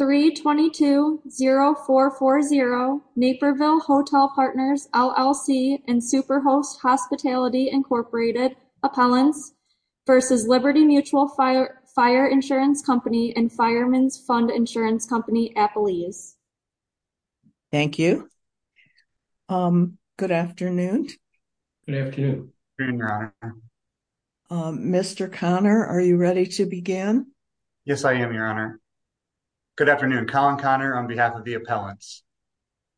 322-0440 Naperville Hotel Partners, LLC and Superhost Hospitality, Inc. Appellants v. Liberty Mutual Fire Insurance Co. and Fireman's Fund Insurance Co. Appellees. Thank you. Good afternoon. Good afternoon, Your Honor. Mr. Connor, are you ready to begin? Yes, I am, Your Honor. Good afternoon. Colin Connor on behalf of the appellants.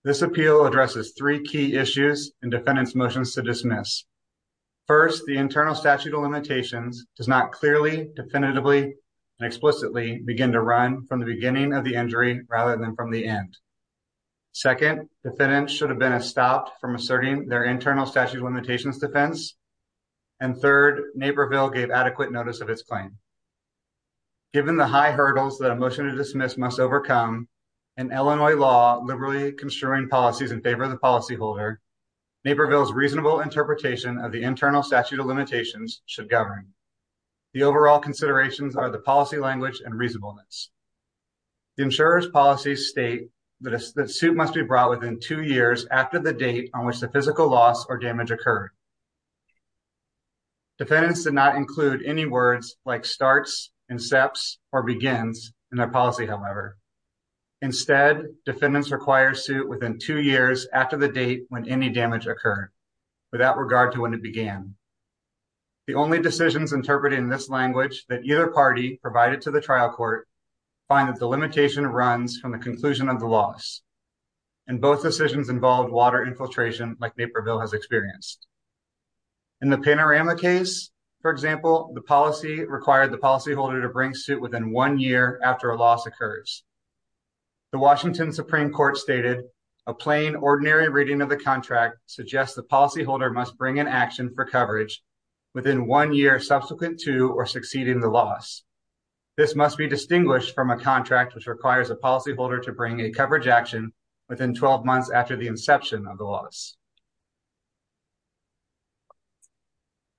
This appeal addresses three key issues and defendant's motions to dismiss. First, the internal statute of limitations does not clearly, definitively, and explicitly begin to run from the beginning of the injury rather than from the end. Second, defendant should have been stopped from asserting their internal statute of limitations defense. And third, Naperville gave adequate notice of its claim. Given the high hurdles that a motion to dismiss must overcome in Illinois law, liberally construing policies in favor of the policyholder, Naperville's reasonable interpretation of the internal statute of limitations should govern. The overall considerations are the policy language and reasonableness. The insurer's policies state that a suit must be brought within two years after the date on which the physical loss or damage occurred. Defendants did not include any words like starts, incepts, or begins in their policy, however. Instead, defendants require a suit within two years after the date when any damage occurred, without regard to when it began. The only decisions interpreted in this language that either party provided to the trial court find that the limitation runs from the conclusion of the loss. And both decisions involve water infiltration like Naperville has experienced. In the Panorama case, for example, the policy required the policyholder to bring suit within one year after a loss occurs. The Washington Supreme Court stated, a plain, ordinary reading of the contract suggests the policyholder must bring an action for coverage within one year subsequent to or succeeding the loss. This must be distinguished from a contract which requires a policyholder to bring a coverage action within 12 months after the inception of the loss.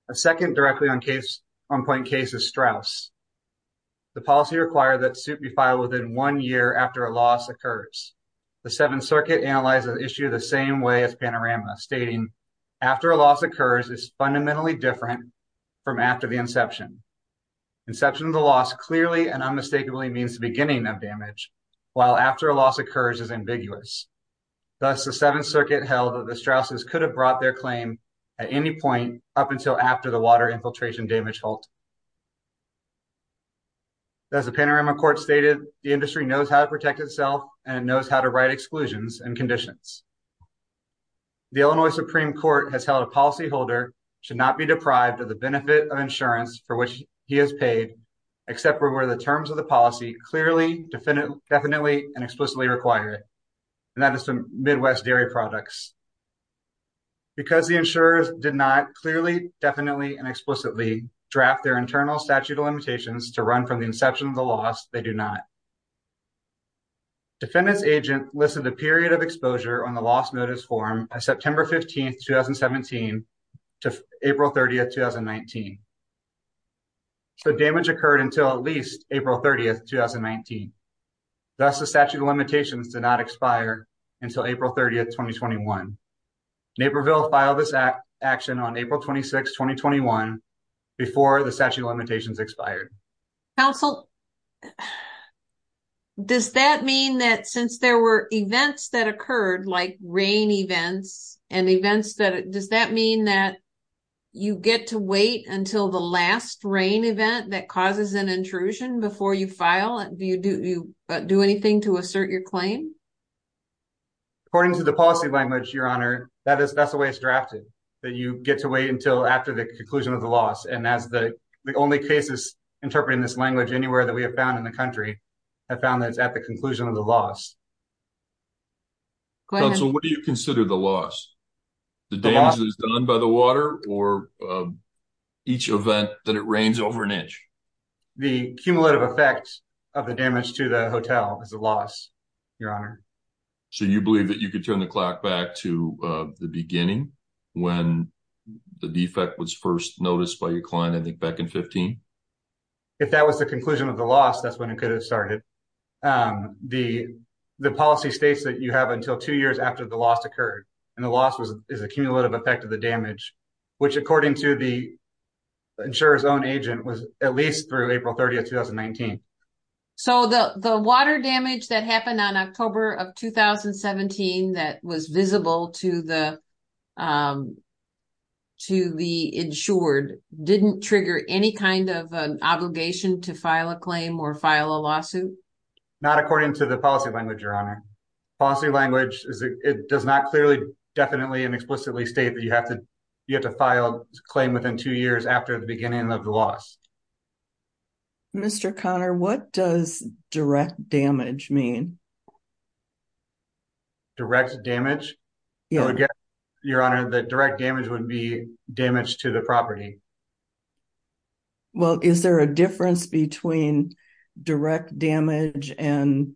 A second directly on point case is Strauss. The policy required that suit be filed within one year after a loss occurs. The Seventh Circuit analyzes the issue the same way as Panorama, stating, after a loss occurs is fundamentally different from after the inception. Inception of the loss clearly and unmistakably means the beginning of damage, while after a loss occurs is ambiguous. Thus, the Seventh Circuit held that the Strausses could have brought their claim at any point up until after the water infiltration damage halt. As the Panorama court stated, the industry knows how to protect itself and knows how to write exclusions and conditions. The Illinois Supreme Court has held a policyholder should be deprived of the benefit of insurance for which he has paid, except for where the terms of the policy clearly, definitely, and explicitly require it, and that is from Midwest Dairy Products. Because the insurers did not clearly, definitely, and explicitly draft their internal statute of limitations to run from the inception of the loss, they do not. Defendant's agent listed the period of exposure on the loss notice form as September 15, 2017 to April 30, 2019. So, damage occurred until at least April 30, 2019. Thus, the statute of limitations did not expire until April 30, 2021. Naperville filed this action on April 26, 2021, before the statute of limitations expired. Counsel, does that mean that since there were events that occurred, like rain events, does that mean that you get to wait until the last rain event that causes an intrusion before you file? Do you do anything to assert your claim? According to the policy language, Your Honor, that's the way it's drafted, that you get to wait until after the conclusion of the loss, and that's the only cases interpreting this language anywhere that we have found in the country, have found that it's at the conclusion of the loss. Counsel, what do you consider the loss? The damage that is done by the water, or each event that it rains over an inch? The cumulative effect of the damage to the hotel is a loss, Your Honor. So, you believe that you could turn the clock back to the beginning, when the defect was first noticed by your client, I think back in 2015? If that was the conclusion of the loss, that's when it could have started. The policy states that you have until two years after the loss occurred, and the loss is a cumulative effect of the damage, which, according to the insurer's own agent, was at least through April 30, 2019. So, the water damage that happened on October of 2017 that was visible to the insured didn't trigger any kind of an obligation to file a claim or file a lawsuit? Not according to the policy language, Your Honor. Policy language, it does not clearly, definitely, and explicitly state that you have to file a claim within two years after the beginning of the loss. Mr. Connor, what does direct damage mean? Direct damage? Your Honor, the direct damage would be damage to the property. Well, is there a difference between direct damage and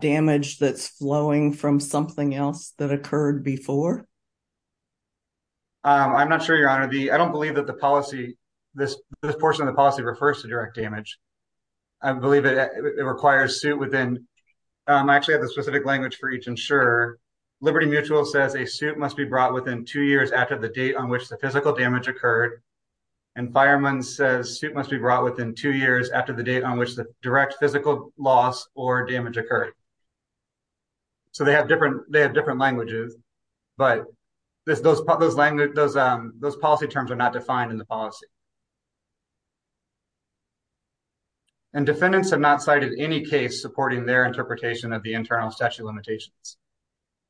damage that's flowing from something else that occurred before? I'm not sure, Your Honor. I don't believe that the policy, this portion of the policy, refers to direct damage. I believe it requires suit within I actually have a specific language for each insurer. Liberty Mutual says a suit must be brought within two years after the date on which the physical damage occurred, and Fireman's says suit must be brought within two years after the date on which the direct physical loss or damage occurred. So, they have different languages, but those policy terms are defined in the policy. And defendants have not cited any case supporting their interpretation of the internal statute of limitations.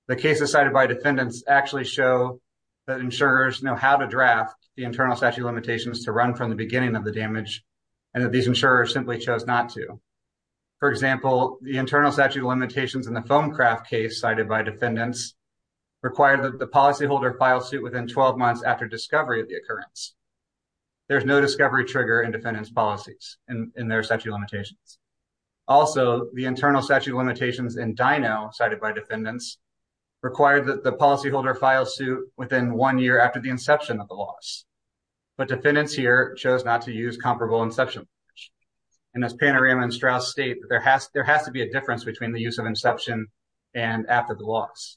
The cases cited by defendants actually show that insurers know how to draft the internal statute of limitations to run from the beginning of the damage and that these insurers simply chose not to. For example, the internal statute of limitations in the foam craft case cited by defendants required that the policyholder file suit within 12 months after discovery of the occurrence. There's no discovery trigger in defendants' policies in their statute of limitations. Also, the internal statute of limitations in DINO, cited by defendants, required that the policyholder file suit within one year after the inception of the loss. But defendants here chose not to use comparable inception language. And as Panorama and Strauss state, there has to be a difference between the use of inception and after the loss.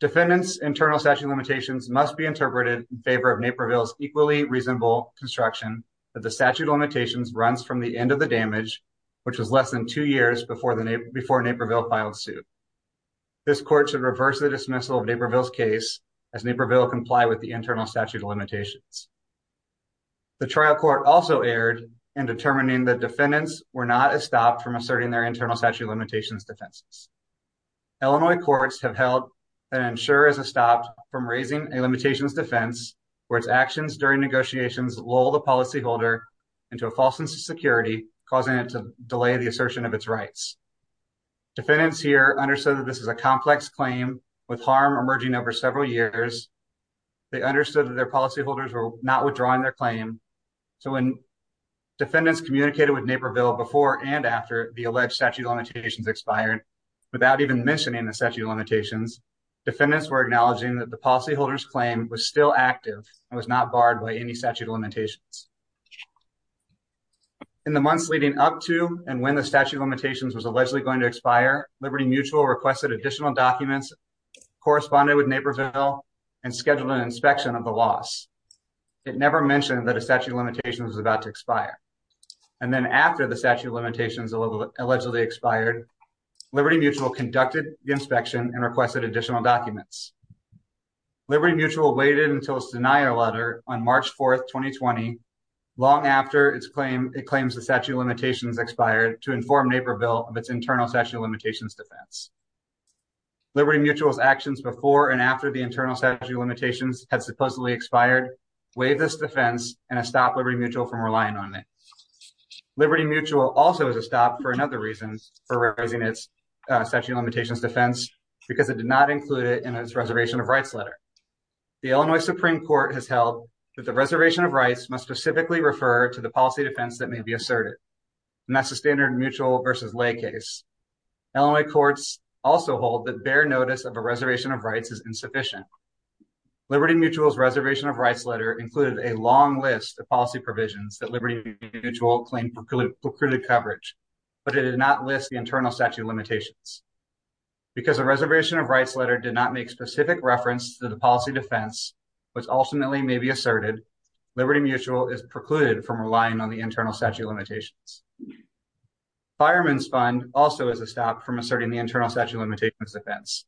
Defendants' internal statute of limitations must be interpreted in favor of Naperville's equally reasonable construction that the statute of limitations runs from the end of the damage, which was less than two years before Naperville filed suit. This court should reverse the dismissal of Naperville's case as Naperville complied with the internal statute of limitations. The trial court also erred in determining that defendants were not stopped from asserting their rights. Illinois courts have held that an insurer is stopped from raising a limitations defense where its actions during negotiations lull the policyholder into a false sense of security, causing it to delay the assertion of its rights. Defendants here understood that this is a complex claim with harm emerging over several years. They understood that their policyholders were not withdrawing their claim. So when defendants communicated with Naperville before and after the alleged statute of limitations expired, without even mentioning the statute of limitations, defendants were acknowledging that the policyholder's claim was still active and was not barred by any statute of limitations. In the months leading up to and when the statute of limitations was allegedly going to expire, Liberty Mutual requested additional documents corresponding with Naperville and scheduled an inspection of the loss. It never mentioned that a statute of limitations was about to expire. And then after the statute of limitations allegedly expired, Liberty Mutual conducted the inspection and requested additional documents. Liberty Mutual waited until its denial letter on March 4, 2020, long after it claims the statute of limitations expired, to inform Naperville of its internal statute of limitations defense. Liberty Mutual's actions before and after the internal statute of limitations had supposedly expired waived this defense and stopped Liberty Mutual from relying on it. Liberty Mutual also was stopped for another reason for raising its statute of limitations defense because it did not include it in its reservation of rights letter. The Illinois Supreme Court has held that the reservation of rights must specifically refer to the policy defense that may be asserted. And that's the standard mutual versus lay case. Illinois courts also hold that bare notice of a reservation of rights is insufficient. Liberty Mutual's reservation of rights letter included a long list of policy provisions that Liberty Mutual claimed precluded coverage, but it did not list the internal statute of limitations. Because the reservation of rights letter did not make specific reference to the policy defense, which ultimately may be asserted, Liberty Mutual is precluded from relying on the internal statute of limitations. Fireman's Fund also is a stop from asserting the internal statute of limitations defense.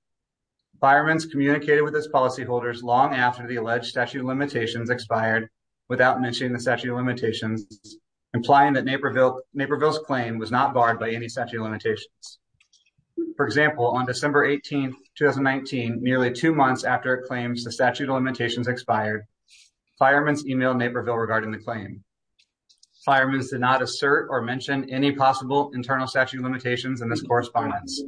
Fireman's communicated with his policy holders long after the alleged statute of limitations expired without mentioning the statute of limitations, implying that Naperville's claim was not barred by any statute of limitations. For example, on December 18th, 2019, nearly two months after it claims the statute of limitations expired, fireman's emailed Naperville regarding the claim. Fireman's did not assert or mention any possible internal statute of limitations in this correspondence.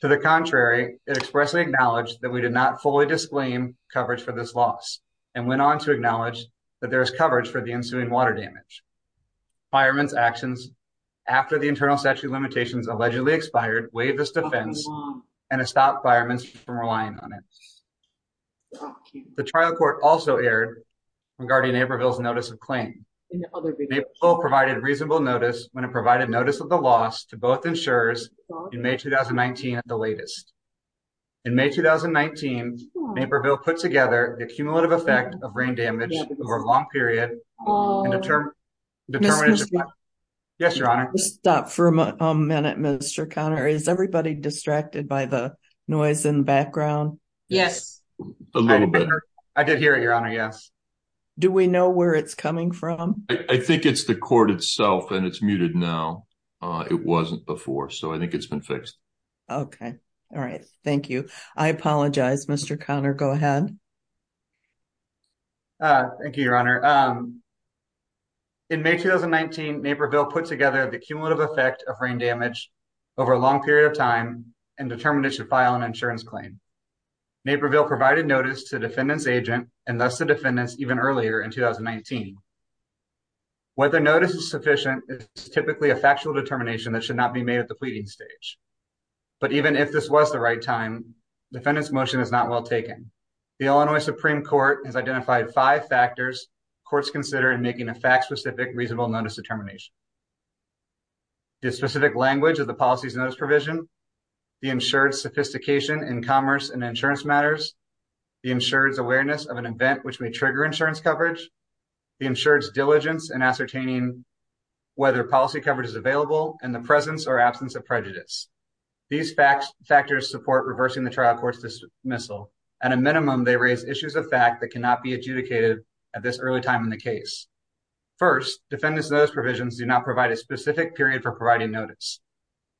To the contrary, it expressly acknowledged that we did not fully disclaim coverage for this loss and went on to acknowledge that there is coverage for the ensuing water damage. Fireman's actions after the internal statute limitations allegedly expired waived this defense and stopped fireman's from relying on it. The trial court also aired regarding Naperville's notice when it provided notice of the loss to both insurers in May 2019 at the latest. In May 2019, Naperville put together the cumulative effect of rain damage over a long period Yes, your honor. Stop for a minute, Mr. Connor. Is everybody distracted by the noise in the background? Yes, a little bit. I did hear it, your honor. Yes. Do we know where it's coming from? I think it's the court itself and it's muted now. It wasn't before, so I think it's been fixed. Okay. All right. Thank you. I apologize, Mr. Connor. Go ahead. Thank you, your honor. In May 2019, Naperville put together the cumulative effect of rain damage over a long period of time and determined it should file an insurance claim. Naperville provided notice to the defendant's agent and thus the defendant's even earlier in 2019. Whether notice is sufficient is typically a factual determination that should not be made at the pleading stage, but even if this was the right time, defendant's motion is not well taken. The Illinois Supreme Court has identified five factors courts consider in making a fact-specific reasonable notice determination. The specific language of the policy's notice provision, the insured sophistication in commerce and insurance matters, the insured's awareness of an event which may trigger insurance coverage, the insured's diligence in ascertaining whether policy coverage is available, and the presence or absence of prejudice. These facts factors support reversing the trial court's dismissal. At a minimum, they raise issues of fact that cannot be adjudicated at this early time in the case. First, defendant's notice provisions do not provide a specific period for providing notice.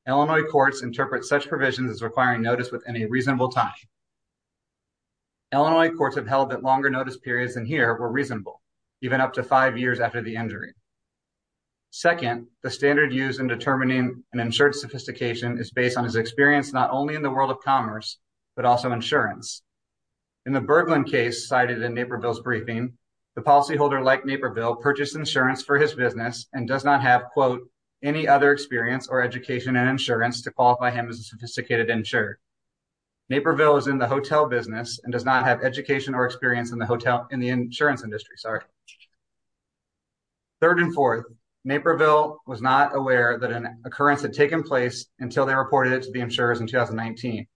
Illinois courts interpret such provisions as requiring notice within a reasonable time. Illinois courts have held that longer notice periods than here were reasonable, even up to five years after the injury. Second, the standard used in determining an insured's sophistication is based on his experience not only in the world of commerce, but also insurance. In the Bergland case cited in Naperville's briefing, the policyholder, like Naperville, purchased insurance for his business and does not have, quote, any other experience or education in insurance to qualify him as a sophisticated insured. Naperville is in the hotel business and does not have education or experience in the insurance industry. Third and fourth, Naperville was not aware that an occurrence had taken place until they reported it to the insurers in 2019.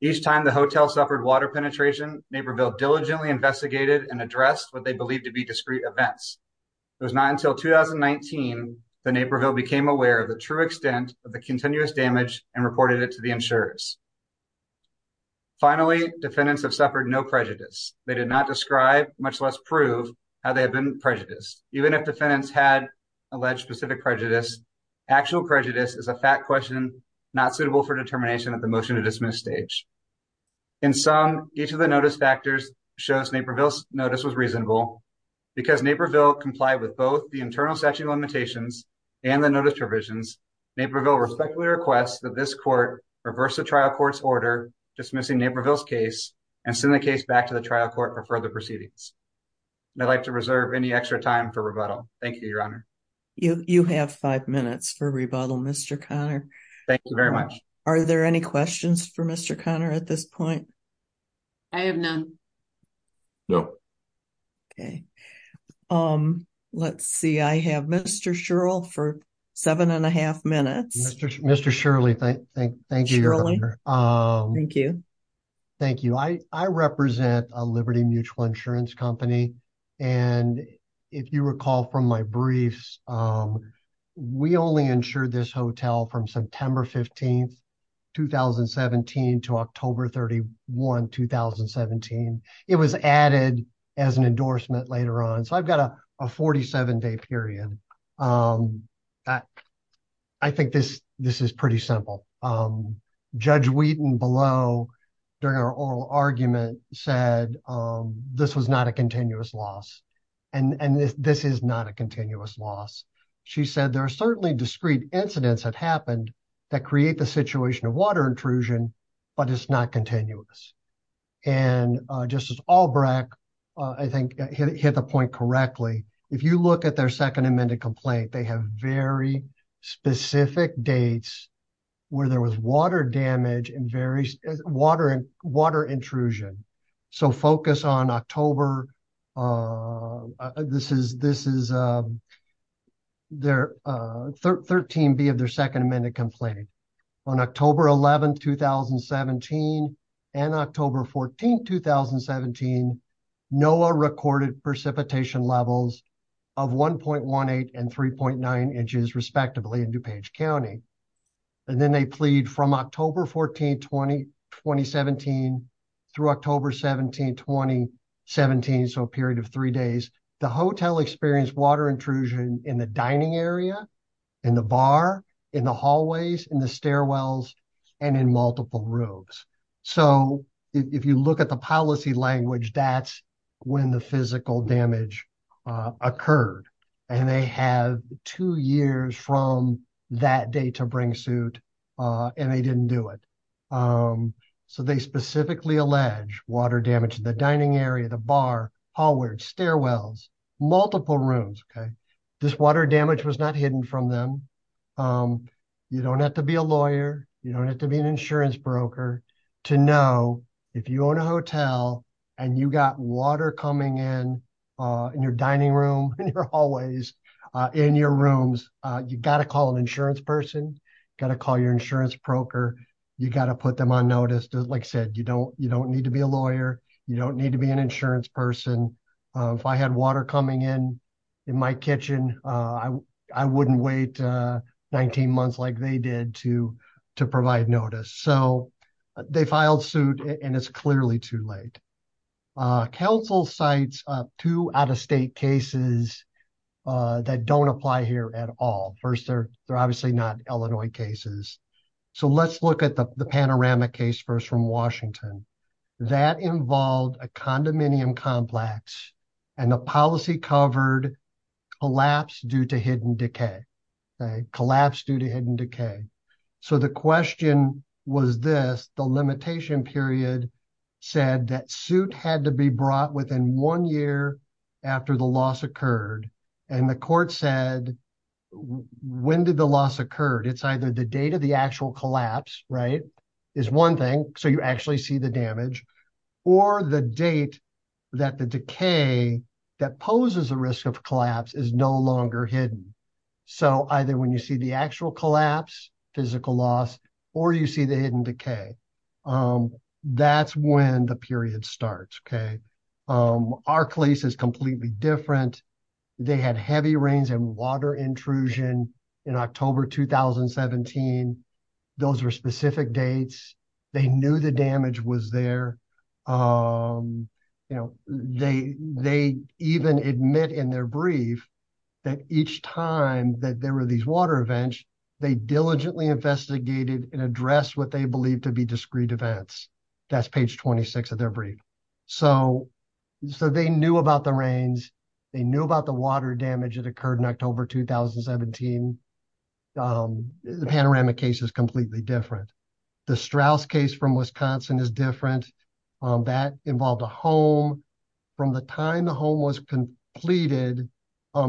Each time the hotel suffered water penetration, Naperville diligently investigated and addressed what they believed to be discrete events. It was not until 2019 that Naperville became aware of the true extent of the continuous damage and reported it to the insurers. Finally, defendants have suffered no prejudice. They did not describe, much less prove, how they have been prejudiced. Even if defendants had alleged specific prejudice, actual prejudice is a fact question not suitable for determination at the motion-to-dismiss stage. In sum, each of the notice factors shows Naperville's notice was reasonable. Because Naperville complied with both the internal statute of limitations and the notice provisions, Naperville respectfully requests that this court reverse the trial court's order dismissing Naperville's case and send the case back to the trial court for further proceedings. I'd like to reserve any extra time for rebuttal. Thank you, your honor. You have five minutes for rebuttal, Mr. Conner. Thank you very much. Are there any questions for Mr. Conner at this point? I have none. No. Okay, um, let's see. I have Mr. Shirl for seven and a half minutes. Mr. Shirley, thank you. Thank you. Thank you. I represent a Liberty Mutual Insurance Company, and if you recall from my briefs, we only insured this hotel from September 15, 2017 to October 31, 2017. It was added as an 47-day period. I think this is pretty simple. Judge Wheaton below during our oral argument said this was not a continuous loss, and this is not a continuous loss. She said there are certainly discrete incidents that happened that create the situation of water intrusion, but it's not continuous. And Justice Albrecht, I think, hit the point correctly. If you look at their second amended complaint, they have very specific dates where there was water damage and water intrusion. So focus on October, this is their 13B of their second amended complaint. On October 11, 2017 and October 14, 2017, NOAA recorded precipitation levels of 1.18 and 3.9 inches respectively in DuPage County. And then they plead from October 14, 2017 through October 17, 2017, so a period of three days, the hotel experienced water intrusion in the dining area, in the bar, in the hallways, in the stairwells, and in multiple rooms. So if you look at the policy language, that's when the physical damage occurred. And they have two years from that day to bring suit, and they didn't do it. So they specifically allege water damage in the dining from them. You don't have to be a lawyer. You don't have to be an insurance broker to know if you own a hotel and you got water coming in, in your dining room, in your hallways, in your rooms, you got to call an insurance person, got to call your insurance broker. You got to put them on notice. Like I said, you don't need to be a lawyer. You don't need to be an insurance person. If I had water coming in, in my kitchen, I wouldn't wait 19 months like they did to provide notice. So they filed suit and it's clearly too late. Council cites two out-of-state cases that don't apply here at all. First, they're obviously not Illinois cases. So let's look at the condominium complex and the policy covered collapse due to hidden decay, collapse due to hidden decay. So the question was this, the limitation period said that suit had to be brought within one year after the loss occurred. And the court said, when did the loss occurred? It's either the date of the actual collapse, right? Is one thing. So you actually see the damage or the date that the decay that poses a risk of collapse is no longer hidden. So either when you see the actual collapse, physical loss, or you see the hidden decay, that's when the period starts, okay? Our case is completely different. They had heavy rains and water intrusion in October, 2017. Those were specific dates. They knew the damage was there. They even admit in their brief that each time that there were these water events, they diligently investigated and addressed what they believed to be discrete events. That's page 26 of their brief. So they knew about the rains. They knew about the water from Wisconsin is different. That involved a home. From the time the home was completed,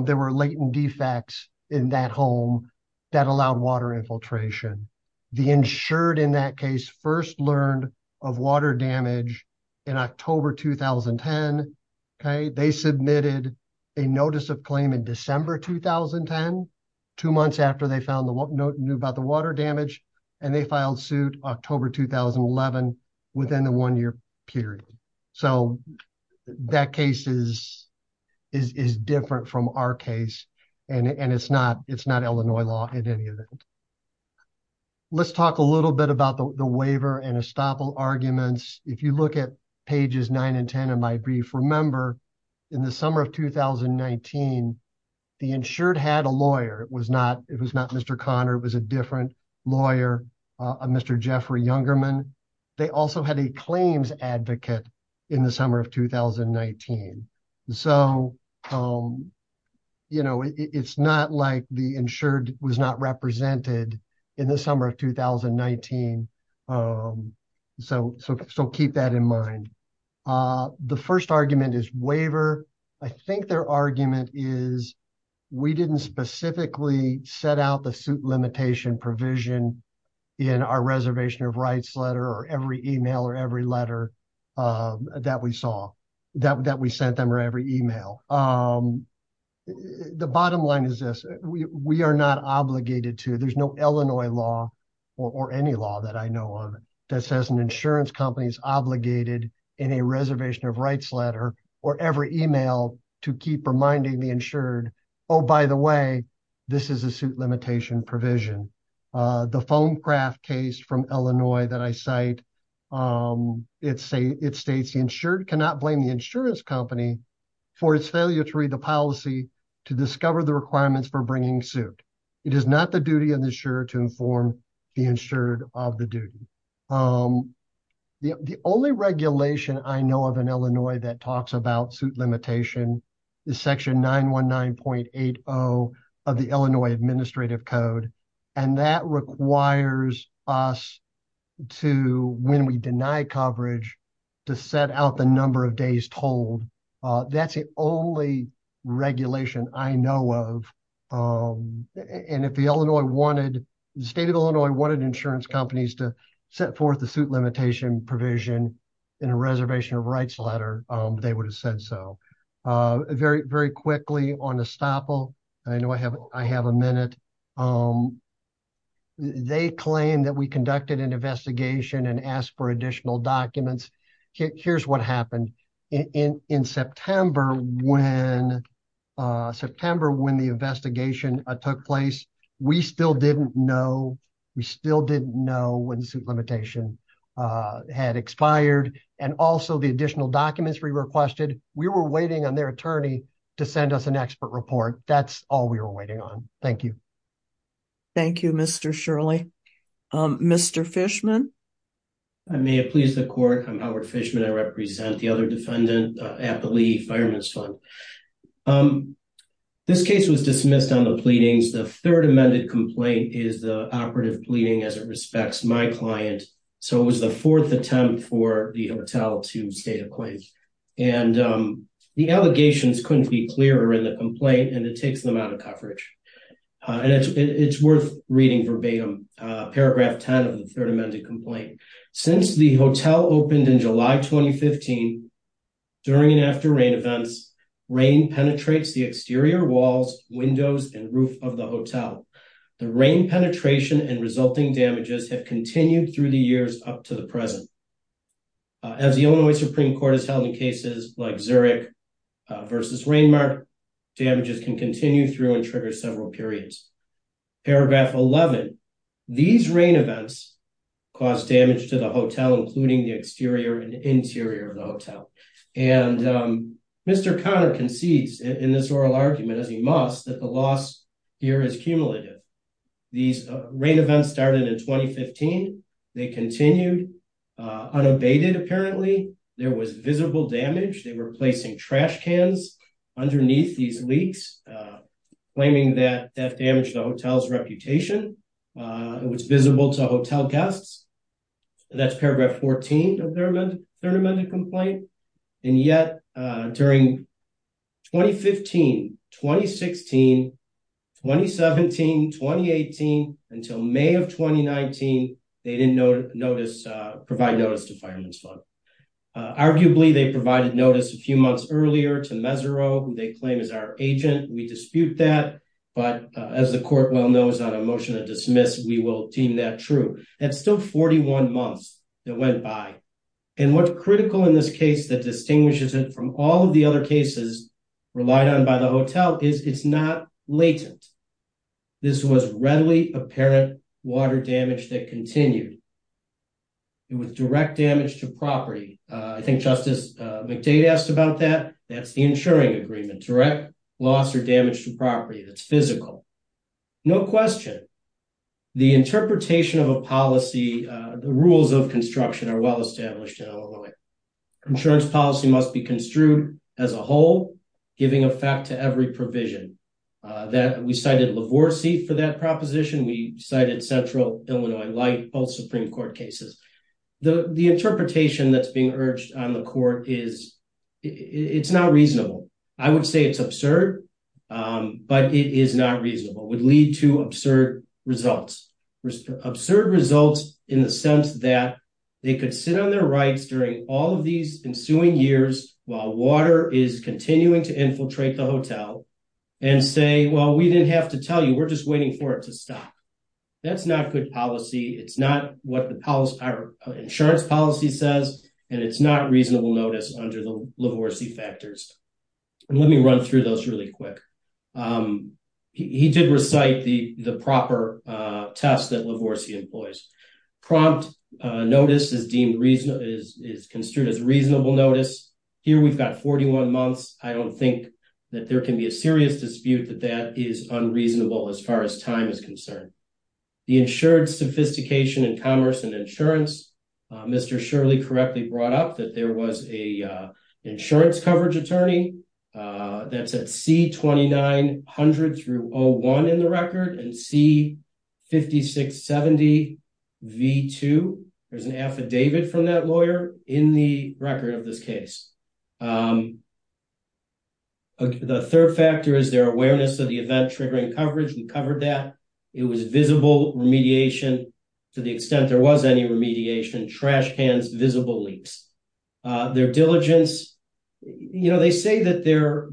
there were latent defects in that home that allowed water infiltration. The insured in that case first learned of water damage in October, 2010. They submitted a notice of claim in December, 2010, two months after they found the note and knew about the water damage, and they filed suit October, 2011 within the one-year period. So that case is different from our case, and it's not Illinois law in any event. Let's talk a little bit about the waiver and estoppel arguments. If you look at pages 9 and 10 of my brief, remember in the summer of 2019, the insured had a lawyer. It was not Mr. Conner. It was a different lawyer, Mr. Jeffrey Youngerman. They also had a claims advocate in the summer of 2019. So it's not like the insured was not represented in the summer of 2019. So keep that in mind. The first argument is waiver. I think their argument is we didn't specifically set out the suit limitation provision in our reservation of rights letter or every email or every letter that we saw, that we sent them or every email. The bottom line is this. We are not obligated to, there's no Illinois law or any law that I know of that says an insurance company is obligated in a reservation of rights letter or every email to keep reminding the insured, oh, by the way, this is a suit limitation provision. The phone craft case from Illinois that I cite, it states the insured cannot blame the insurance company for its failure to read the policy to discover the requirements for bringing suit. It is not the duty of the insurer to inform the insured of the duty. The only regulation I know of in Illinois that talks about suit limitation is section 919.80 of the Illinois administrative code. And that requires us to, when we deny coverage, to set out the number of days told. That's the only regulation I know of. And if the Illinois wanted, the state of Illinois wanted insurance companies to set forth the suit limitation provision in a reservation of rights letter, they would have said so. Very quickly on Estoppel, I know I have a minute. They claim that we conducted an investigation and asked for additional documents. Here's what happened. In September when the investigation took place, we still didn't know. We still didn't know when the suit limitation had expired. And also the additional documents we requested, we were waiting on their attorney to send us an expert report. That's all we were waiting on. Thank you. Thank you, Mr. Shirley. Mr. Fishman? I may have pleased the court. I'm Howard Fishman. I represent the other defendant at the Lee Fireman's Fund. This case was dismissed on the pleadings. The third amended complaint is the operative pleading as it respects my client. So it was the fourth attempt for the hotel to state a claim. And the allegations couldn't be clearer in the complaint, and it takes them out of coverage. And it's worth reading verbatim. Paragraph 10 of the third amended complaint. Since the hotel opened in July 2015, during and after rain events, rain penetrates the exterior walls, windows, and roof of the hotel. The rain penetration and resulting damages have continued through the years up to the present. As the Illinois Supreme Court has held in cases like Zurich versus Rainmark, damages can continue through and trigger several periods. Paragraph 11. These rain events caused damage to the hotel, including the exterior and interior of the hotel. And Mr. Conner concedes in this oral argument, as he must, that the loss here is cumulative. These rain events started in 2015. They continued unabated apparently. There was damage to the hotel's reputation. It was visible to hotel guests. And that's paragraph 14 of the third amended complaint. And yet during 2015, 2016, 2017, 2018, until May of 2019, they didn't provide notice to Fireman's Fund. Arguably, they provided notice a few months earlier to Mesereau, who they claim is our agent. We dispute that. But as the court well knows on a motion to dismiss, we will deem that true. That's still 41 months that went by. And what's critical in this case that distinguishes it from all of the other cases relied on by the hotel is it's not latent. This was readily apparent water damage that continued. It was direct damage to property. I think Justice McDade asked about that. That's the insuring agreement, direct loss or damage to property. That's physical. No question. The interpretation of a policy, the rules of construction are well established in Illinois. Insurance policy must be construed as a whole, giving effect to every provision. We cited Lavorsi for that proposition. We cited Central Illinois Light, both Supreme Court cases. The interpretation that's being urged on the court is it's not reasonable. I would say it's absurd, but it is not reasonable. It would lead to absurd results. Absurd results in the sense that they could sit on their rights during all of these ensuing years while water is continuing to infiltrate the hotel and say, well, we didn't have to tell you. We're just waiting for it to stop. That's not good policy. It's not what the insurance policy says, and it's not reasonable notice under the Lavorsi factors. Let me run through those really quick. He did recite the proper test that Lavorsi employs. Prompt notice is deemed reasonable, is construed as reasonable notice. Here we've got 41 months. I don't think that there can be a serious dispute that that is unreasonable as far as time is concerned. The insured sophistication in commerce and insurance, Mr. Shirley correctly brought up that there was a insurance coverage attorney that's at C2900-01 in the record and C5670V2. There's an affidavit from that lawyer in the record of this case. The third factor is their awareness of the event-triggering coverage. We covered that. It was visible remediation to the extent there was any remediation. Trash cans, visible leaks. Their diligence, you know, they say that their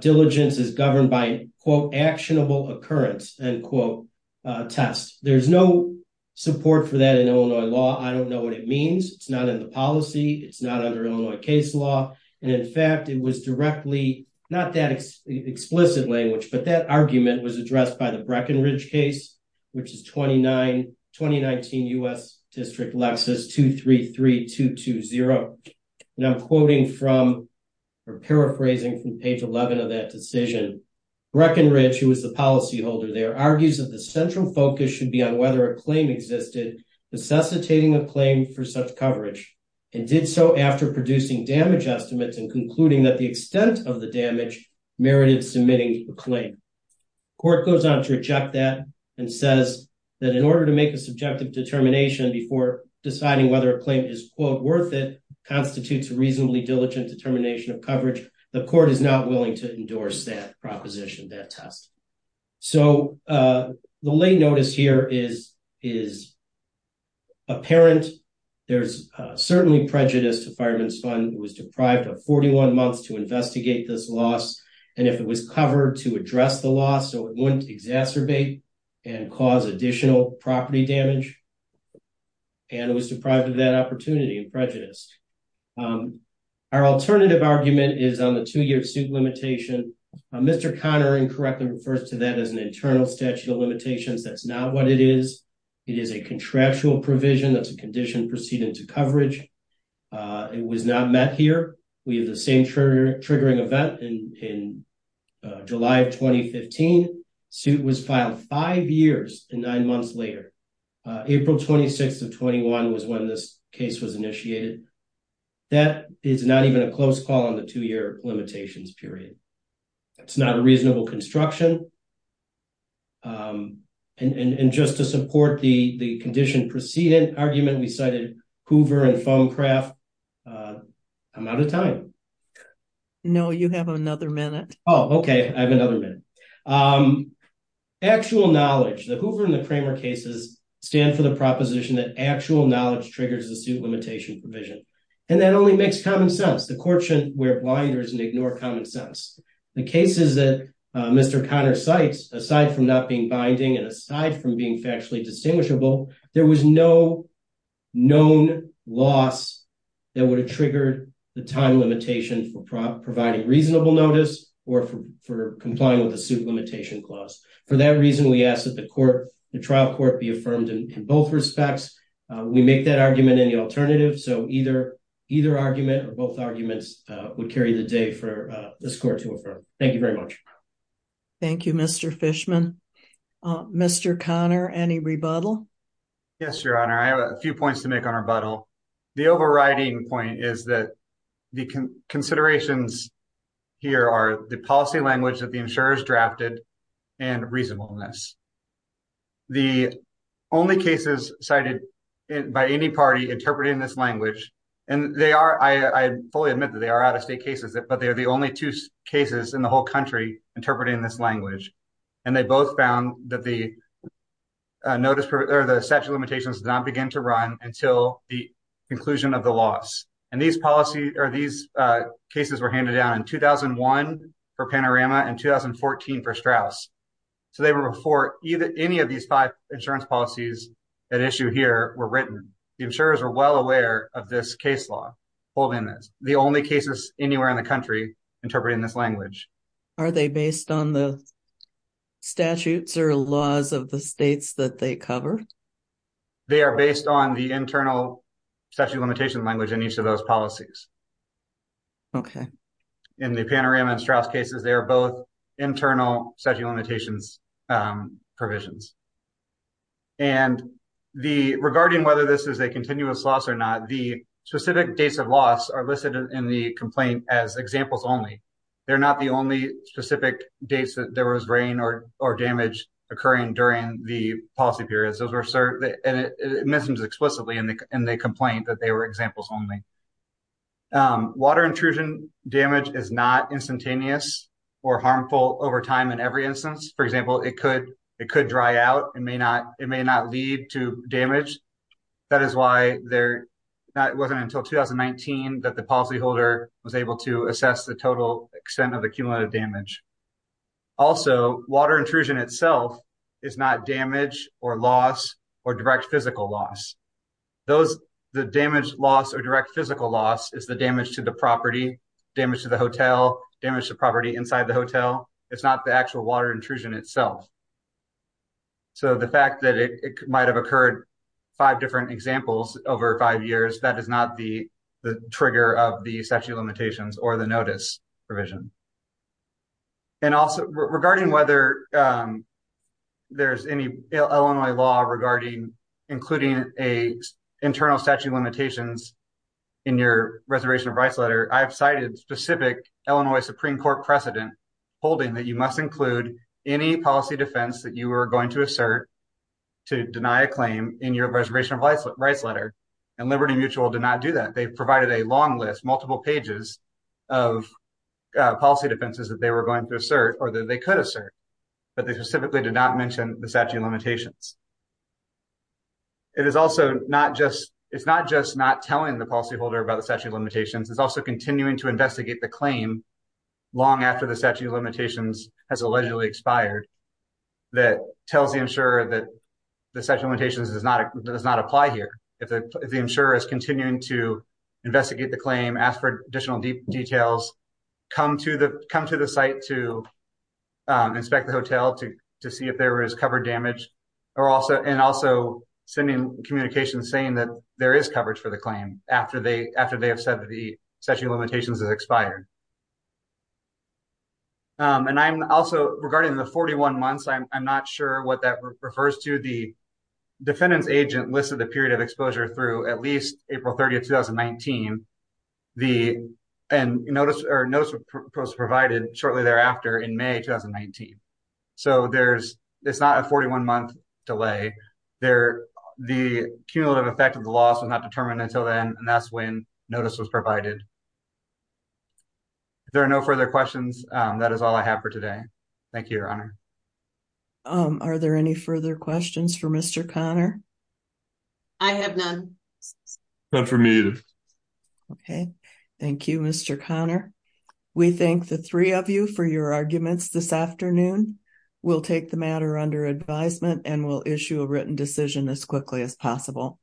diligence is governed by quote actionable occurrence and quote test. There's no support for that in Illinois law. I don't know what it means. It's not in the policy. It's not under Illinois case law. In fact, it was directly, not that explicit language, but that argument was addressed by the Breckenridge case, which is 2019 U.S. District Lexus 233-220. I'm quoting from or paraphrasing from page 11 of that decision. Breckenridge, who was the policyholder there, argues that the central focus should be on a claim existed necessitating a claim for such coverage and did so after producing damage estimates and concluding that the extent of the damage merited submitting a claim. Court goes on to reject that and says that in order to make a subjective determination before deciding whether a claim is quote worth it constitutes a reasonably diligent determination of coverage, the court is not willing to endorse that proposition, that test. So the late notice here is apparent. There's certainly prejudice to Fireman's Fund. It was deprived of 41 months to investigate this loss and if it was covered to address the loss so it wouldn't exacerbate and cause additional property damage. And it was deprived of that opportunity and prejudice. Our alternative argument is on the two-year suit limitation. Mr. Conner incorrectly refers to that as an internal statute of limitations. That's not what it is. It is a contractual provision that's a condition proceeding to coverage. It was not met here. We have the same triggering event in July of 2015. Suit was filed five years and nine months later. April 26th of 21 was when this case was initiated. That is not even a close call on the two-year limitations period. That's not a reasonable construction. And just to support the the condition proceeding argument we cited Hoover and Fonecraft, I'm out of time. No, you have another minute. Oh okay, I have another minute. Actual knowledge. The Hoover and the Kramer cases stand for the proposition that actual knowledge triggers the suit limitation provision and that only makes common sense. The cases that Mr. Conner cites, aside from not being binding and aside from being factually distinguishable, there was no known loss that would have triggered the time limitation for providing reasonable notice or for complying with the suit limitation clause. For that reason, we ask that the trial court be affirmed in both respects. We make that argument in the alternative so either argument or both arguments would carry the day for this court to affirm. Thank you very much. Thank you, Mr. Fishman. Mr. Conner, any rebuttal? Yes, your honor. I have a few points to make on rebuttal. The overriding point is that the considerations here are the policy language that the insurers drafted and reasonableness. The only cases cited by any party interpreting this language, and I fully admit that they are out-of-state cases, but they are the only two cases in the whole country interpreting this language, and they both found that the statute of limitations did not begin to run until the conclusion of the loss. And these cases were handed down in 2001 for Panorama and 2014 for Straus. So they were before any of these five insurance policies at issue here were written. The insurers are well aware of this case law holding this. The only cases anywhere in the country interpreting this language. Are they based on the statutes or laws of the states that they cover? They are based on the internal statute of limitations language in each of those policies. Okay. In the Panorama and Straus cases, they are both internal statute of limitations provisions. And regarding whether this is a continuous loss or not, the specific dates of loss are listed in the complaint as examples only. They're not the only specific dates that there was rain or damage occurring during the policy period. It mentions explicitly in the complaint that they were examples only. Water intrusion damage is not instantaneous or harmful over time in every instance. For example, it could dry out and may not lead to damage. That is why it wasn't until 2019 that the policyholder was able to assess the total extent of the cumulative damage. Also, water intrusion itself is not damage or loss or direct physical loss. The damage loss or direct physical loss is the damage to the property, damage to the hotel, damage to property inside the hotel. It's not the actual water intrusion itself. So the fact that it might have occurred five different examples over five years, that is not the trigger of the statute of limitations or the notice provision. And also, regarding whether there's any Illinois law regarding including internal statute of limitations, the Illinois Supreme Court precedent holding that you must include any policy defense that you are going to assert to deny a claim in your reservation of rights letter, and Liberty Mutual did not do that. They provided a long list, multiple pages of policy defenses that they were going to assert or that they could assert, but they specifically did not mention the statute of limitations. It is also not just, it's not just not telling the policyholder about the statute limitations. It's also continuing to investigate the claim long after the statute of limitations has allegedly expired that tells the insurer that the statute of limitations does not apply here. If the insurer is continuing to investigate the claim, ask for additional details, come to the site to inspect the hotel to see if there is covered damage, and also sending communications saying that there is coverage for the claim after they have said that the statute of limitations has expired. And I'm also, regarding the 41 months, I'm not sure what that refers to. The defendant's agent listed the period of exposure through at least April 30, 2019, and notice was provided shortly thereafter in May 2019. So there's, it's not a 41-month delay. The cumulative effect of the loss was not determined until then, and that's when notice was provided. If there are no further questions, that is all I have for today. Thank you, Your Honor. Are there any further questions for Mr. Conner? I have none. None for me either. Okay, thank you, Mr. Conner. We thank the three of you for your arguments this afternoon. We'll take the matter under advisement, and we'll issue a written decision as quickly as possible.